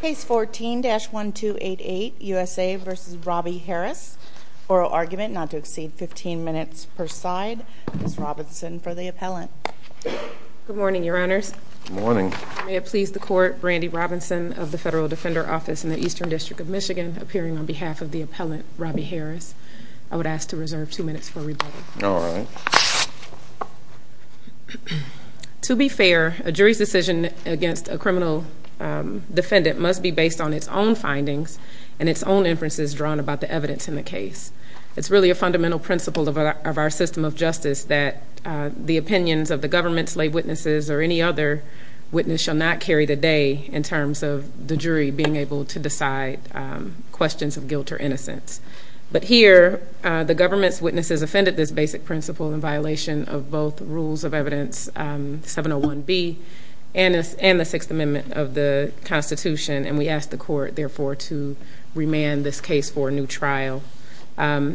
Case 14-1288, USA v. Robby Harris. Oral argument not to exceed 15 minutes per side. Ms. Robinson for the appellant. Good morning, your honors. Good morning. May it please the court, Brandi Robinson of the Federal Defender Office in the Eastern District of Michigan, appearing on behalf of the appellant, Robby Harris. I would ask to reserve two minutes for rebuttal. All right. To be fair, a jury's decision against a criminal defendant must be based on its own findings and its own inferences drawn about the evidence in the case. It's really a fundamental principle of our system of justice that the opinions of the government's lay witnesses or any other witness shall not carry the day in terms of the jury being able to decide questions of guilt or innocence. But here, the government's witnesses offended this basic principle in violation of both rules of evidence 701B and the Sixth Amendment of the Constitution, and we ask the court, therefore, to remand this case for a new trial. Our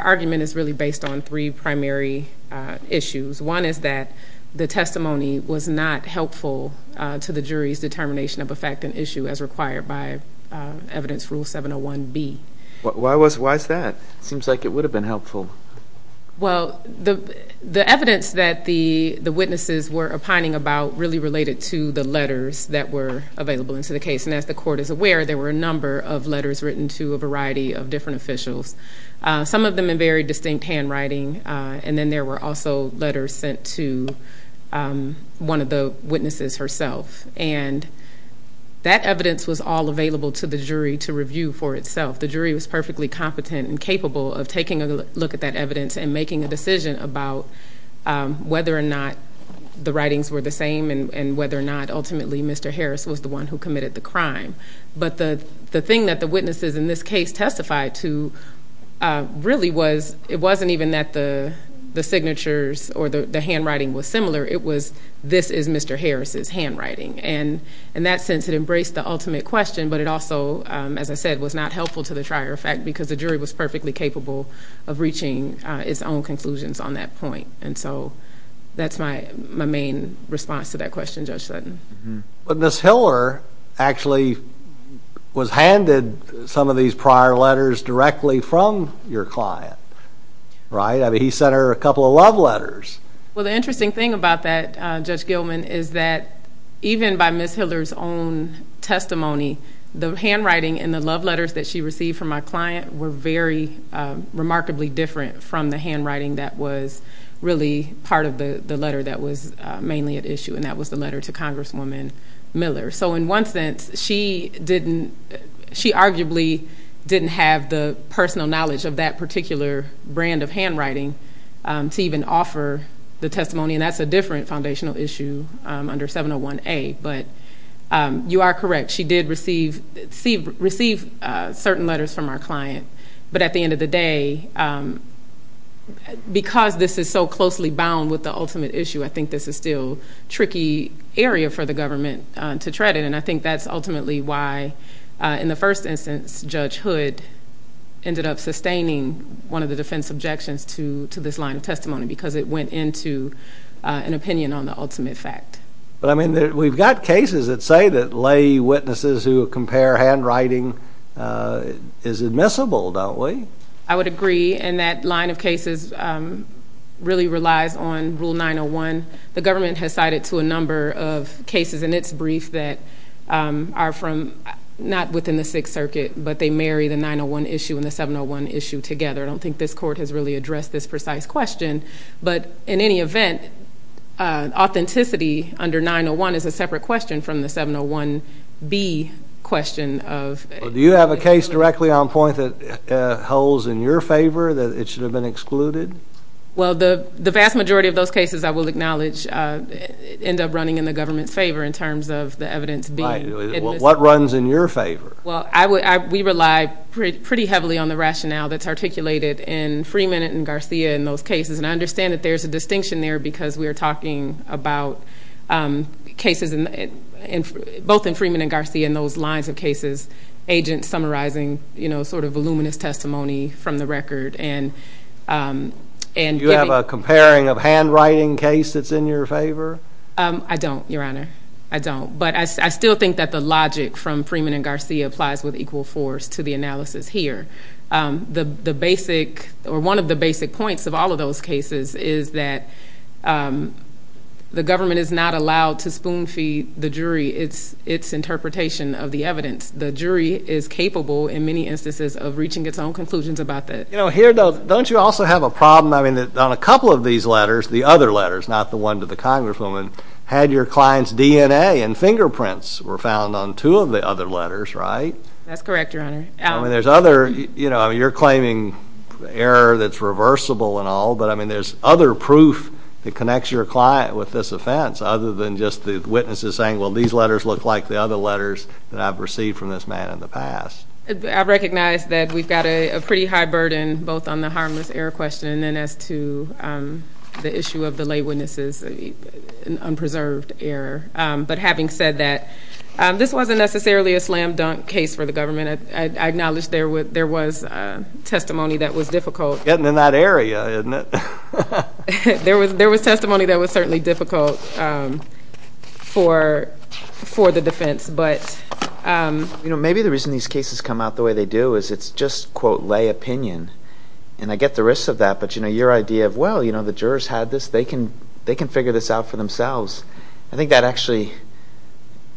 argument is really based on three primary issues. One is that the testimony was not helpful to the jury's determination of a fact and issue as required by evidence rule 701B. Why is that? It seems like it would have been helpful. Well, the evidence that the witnesses were opining about really related to the letters that were available into the case, and as the court is aware, there were a number of letters written to a variety of different officials, some of them in very distinct handwriting, and then there were also letters sent to one of the witnesses herself, and that evidence was all available to the jury to review for itself. The jury was perfectly competent and capable of taking a look at that evidence and making a decision about whether or not the writings were the same and whether or not ultimately Mr. Harris was the one who committed the crime. But the thing that the witnesses in this case testified to really was it wasn't even that the signatures or the handwriting was similar. It was this is Mr. Harris's handwriting. And in that sense, it embraced the ultimate question, but it also, as I said, was not helpful to the trier of fact because the jury was perfectly capable of reaching its own conclusions on that point. And so that's my main response to that question, Judge Sutton. But Ms. Hiller actually was handed some of these prior letters directly from your client, right? I mean, he sent her a couple of love letters. Well, the interesting thing about that, Judge Gilman, is that even by Ms. Hiller's own testimony, the handwriting in the love letters that she received from my client were very remarkably different from the handwriting that was really part of the letter that was mainly at issue, and that was the letter to Congresswoman Miller. So in one sense, she arguably didn't have the personal knowledge of that particular brand of handwriting to even offer the testimony, and that's a different foundational issue under 701A. But you are correct. She did receive certain letters from our client. But at the end of the day, because this is so closely bound with the ultimate issue, I think this is still a tricky area for the government to tread in, and I think that's ultimately why, in the first instance, Judge Hood ended up sustaining one of the defense objections to this line of testimony because it went into an opinion on the ultimate fact. But, I mean, we've got cases that say that lay witnesses who compare handwriting is admissible, don't we? I would agree, and that line of cases really relies on Rule 901. The government has cited to a number of cases in its brief that are from not within the Sixth Circuit, but they marry the 901 issue and the 701 issue together. I don't think this court has really addressed this precise question, but in any event, authenticity under 901 is a separate question from the 701B question. Do you have a case directly on point that holds in your favor that it should have been excluded? Well, the vast majority of those cases, I will acknowledge, end up running in the government's favor in terms of the evidence being admissible. Right. Well, what runs in your favor? Well, we rely pretty heavily on the rationale that's articulated in Freeman and Garcia in those cases, and I understand that there's a distinction there because we are talking about cases both in Freeman and Garcia and those lines of cases, agents summarizing sort of voluminous testimony from the record, and giving— Do you have a comparing of handwriting case that's in your favor? I don't, Your Honor. I don't. But I still think that the logic from Freeman and Garcia applies with equal force to the analysis here. One of the basic points of all of those cases is that the government is not allowed to spoon-feed the jury its interpretation of the evidence. The jury is capable in many instances of reaching its own conclusions about that. You know, here, though, don't you also have a problem? I mean, on a couple of these letters, the other letters, not the one to the congresswoman, had your client's DNA and fingerprints were found on two of the other letters, right? That's correct, Your Honor. I mean, there's other—you know, you're claiming error that's reversible and all, but I mean, there's other proof that connects your client with this offense other than just the witnesses saying, well, these letters look like the other letters that I've received from this man in the past. I recognize that we've got a pretty high burden both on the harmless error question and then as to the issue of the lay witnesses, an unpreserved error. But having said that, this wasn't necessarily a slam-dunk case for the government. I acknowledge there was testimony that was difficult. Getting in that area, isn't it? There was testimony that was certainly difficult for the defense. Maybe the reason these cases come out the way they do is it's just, quote, lay opinion. And I get the risks of that, but your idea of, well, the jurors had this. They can figure this out for themselves. I think that actually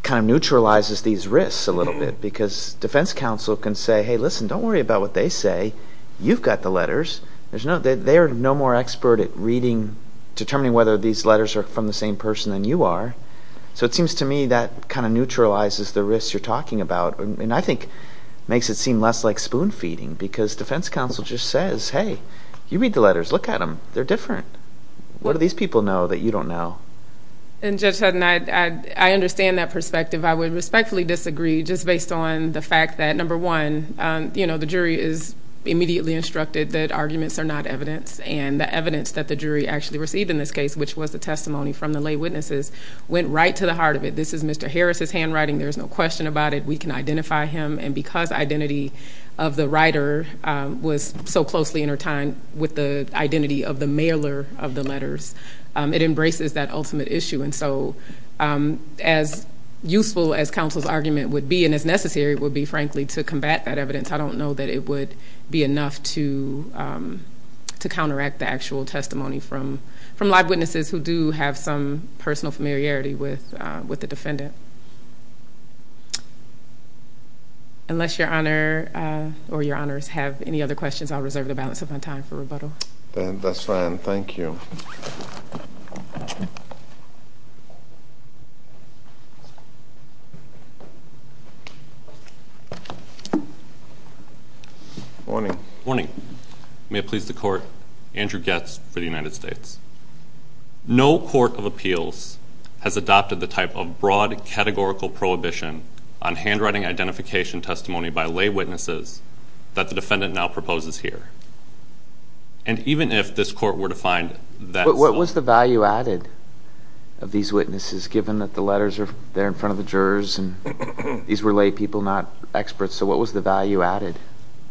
kind of neutralizes these risks a little bit because defense counsel can say, hey, listen, don't worry about what they say. You've got the letters. They are no more expert at determining whether these letters are from the same person than you are. So it seems to me that kind of neutralizes the risks you're talking about and I think makes it seem less like spoon feeding because defense counsel just says, hey, you read the letters. Look at them. They're different. What do these people know that you don't know? And Judge Sutton, I understand that perspective. I would respectfully disagree just based on the fact that, number one, the jury is immediately instructed that arguments are not evidence and the evidence that the jury actually received in this case, which was the testimony from the lay witnesses, went right to the heart of it. This is Mr. Harris's handwriting. There is no question about it. We can identify him. And because identity of the writer was so closely intertwined with the identity of the mailer of the letters, it embraces that ultimate issue. And so as useful as counsel's argument would be and as necessary would be, frankly, to combat that evidence, I don't know that it would be enough to counteract the actual testimony from live witnesses who do have some personal familiarity with the defendant. Unless Your Honor or Your Honors have any other questions, I'll reserve the balance of my time for rebuttal. That's fine. Thank you. Morning. Morning. May it please the Court, Andrew Goetz for the United States. No court of appeals has adopted the type of broad categorical prohibition on handwriting identification testimony by lay witnesses that the defendant now proposes here. And even if this Court were to find that... But what was the value added of these witnesses, given that the letters are there in front of the jurors and these were lay people, not experts? So what was the value added?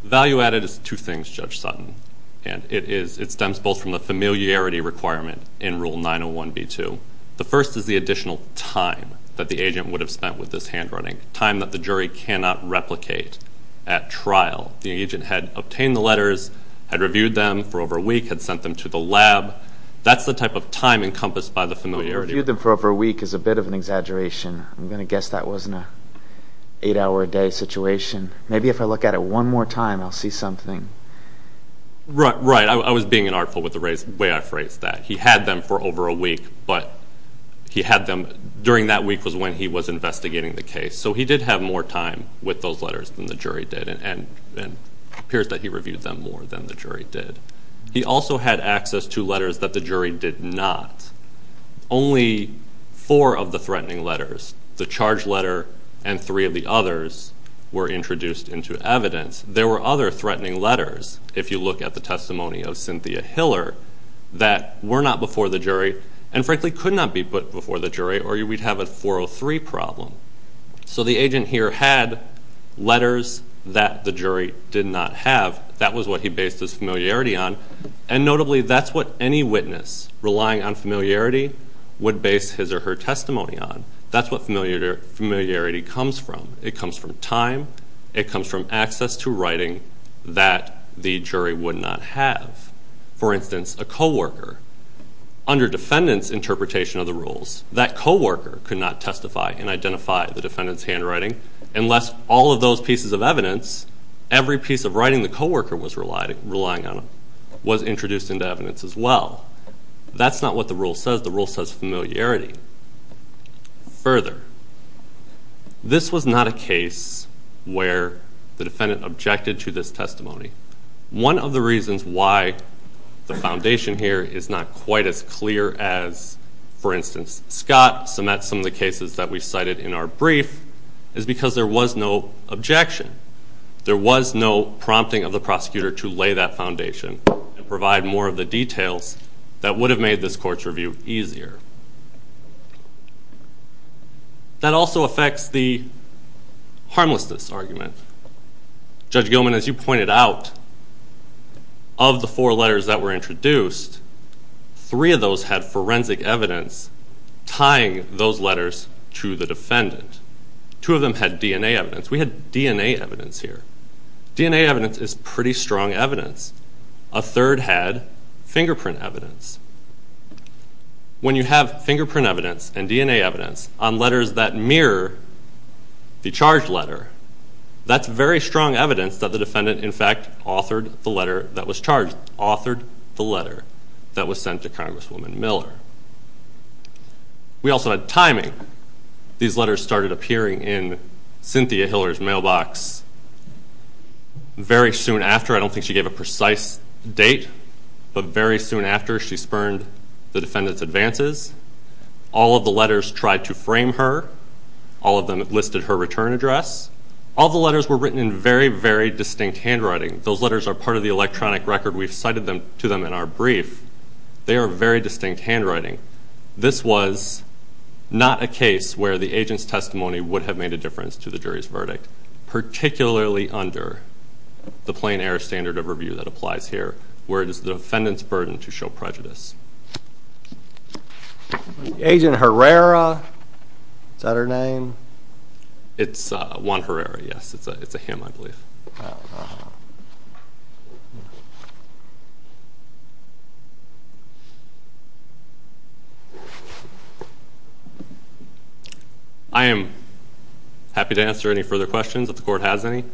The value added is two things, Judge Sutton, and it stems both from the familiarity requirement in Rule 901B2. The first is the additional time that the agent would have spent with this handwriting, time that the jury cannot replicate at trial. The agent had obtained the letters, had reviewed them for over a week, had sent them to the lab. That's the type of time encompassed by the familiarity. Reviewed them for over a week is a bit of an exaggeration. I'm going to guess that wasn't an eight-hour-a-day situation. Maybe if I look at it one more time, I'll see something. Right. I was being unartful with the way I phrased that. He had them for over a week, but he had them during that week was when he was investigating the case. So he did have more time with those letters than the jury did, and it appears that he reviewed them more than the jury did. He also had access to letters that the jury did not. Only four of the threatening letters, the charge letter and three of the others, were introduced into evidence. There were other threatening letters, if you look at the testimony of Cynthia Hiller, that were not before the jury and, frankly, could not be put before the jury or we'd have a 403 problem. So the agent here had letters that the jury did not have. That was what he based his familiarity on, and notably that's what any witness relying on familiarity would base his or her testimony on. That's what familiarity comes from. It comes from time. It comes from access to writing that the jury would not have. For instance, a co-worker, under defendant's interpretation of the rules, that co-worker could not testify and identify the defendant's handwriting unless all of those pieces of evidence, every piece of writing the co-worker was relying on, was introduced into evidence as well. That's not what the rule says. The rule says familiarity. Further, this was not a case where the defendant objected to this testimony. One of the reasons why the foundation here is not quite as clear as, for instance, Scott cements some of the cases that we cited in our brief is because there was no objection. There was no prompting of the prosecutor to lay that foundation and provide more of the details that would have made this court's review easier. That also affects the harmlessness argument. Judge Gilman, as you pointed out, of the four letters that were introduced, three of those had forensic evidence tying those letters to the defendant. Two of them had DNA evidence. We had DNA evidence here. DNA evidence is pretty strong evidence. A third had fingerprint evidence. When you have fingerprint evidence and DNA evidence on letters that mirror the charged letter, that's very strong evidence that the defendant, in fact, authored the letter that was charged, authored the letter that was sent to Congresswoman Miller. We also had timing. These letters started appearing in Cynthia Hiller's mailbox very soon after. I don't think she gave a precise date, but very soon after she spurned the defendant's advances. All of the letters tried to frame her. All of them listed her return address. All the letters were written in very, very distinct handwriting. Those letters are part of the electronic record we've cited to them in our brief. They are very distinct handwriting. This was not a case where the agent's testimony would have made a difference to the jury's verdict, particularly under the plain-error standard of review that applies here, where it is the defendant's burden to show prejudice. Agent Herrera, is that her name? It's Juan Herrera, yes. It's a him, I believe. I don't know. I am happy to answer any further questions if the court has any.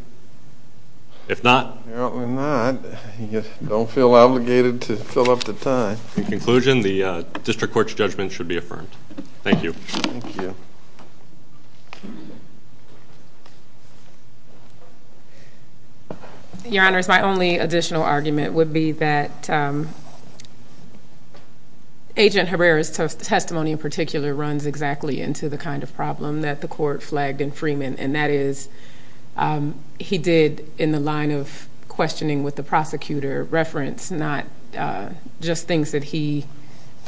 If not. If not, you don't feel obligated to fill up the time. In conclusion, the district court's judgment should be affirmed. Thank you. Thank you. Your Honors, my only additional argument would be that Agent Herrera's testimony in particular runs exactly into the kind of problem that the court flagged in Freeman, and that is he did, in the line of questioning with the prosecutor, reference not just things that he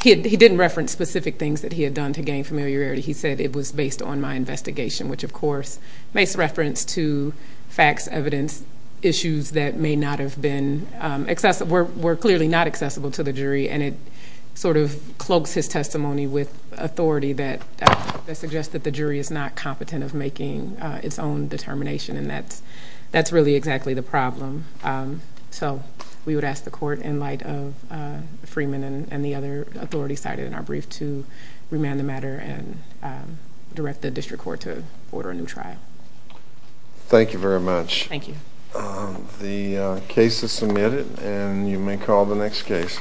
did. He didn't reference specific things that he had done to gain familiarity. He said, it was based on my investigation, which, of course, makes reference to facts, evidence, issues that may not have been accessible, were clearly not accessible to the jury, and it sort of cloaks his testimony with authority that suggests that the jury is not competent of making its own determination, and that's really exactly the problem. So we would ask the court, in light of Freeman and the other authorities cited in our brief, to remand the matter and direct the district court to order a new trial. Thank you very much. Thank you. The case is submitted, and you may call the next case.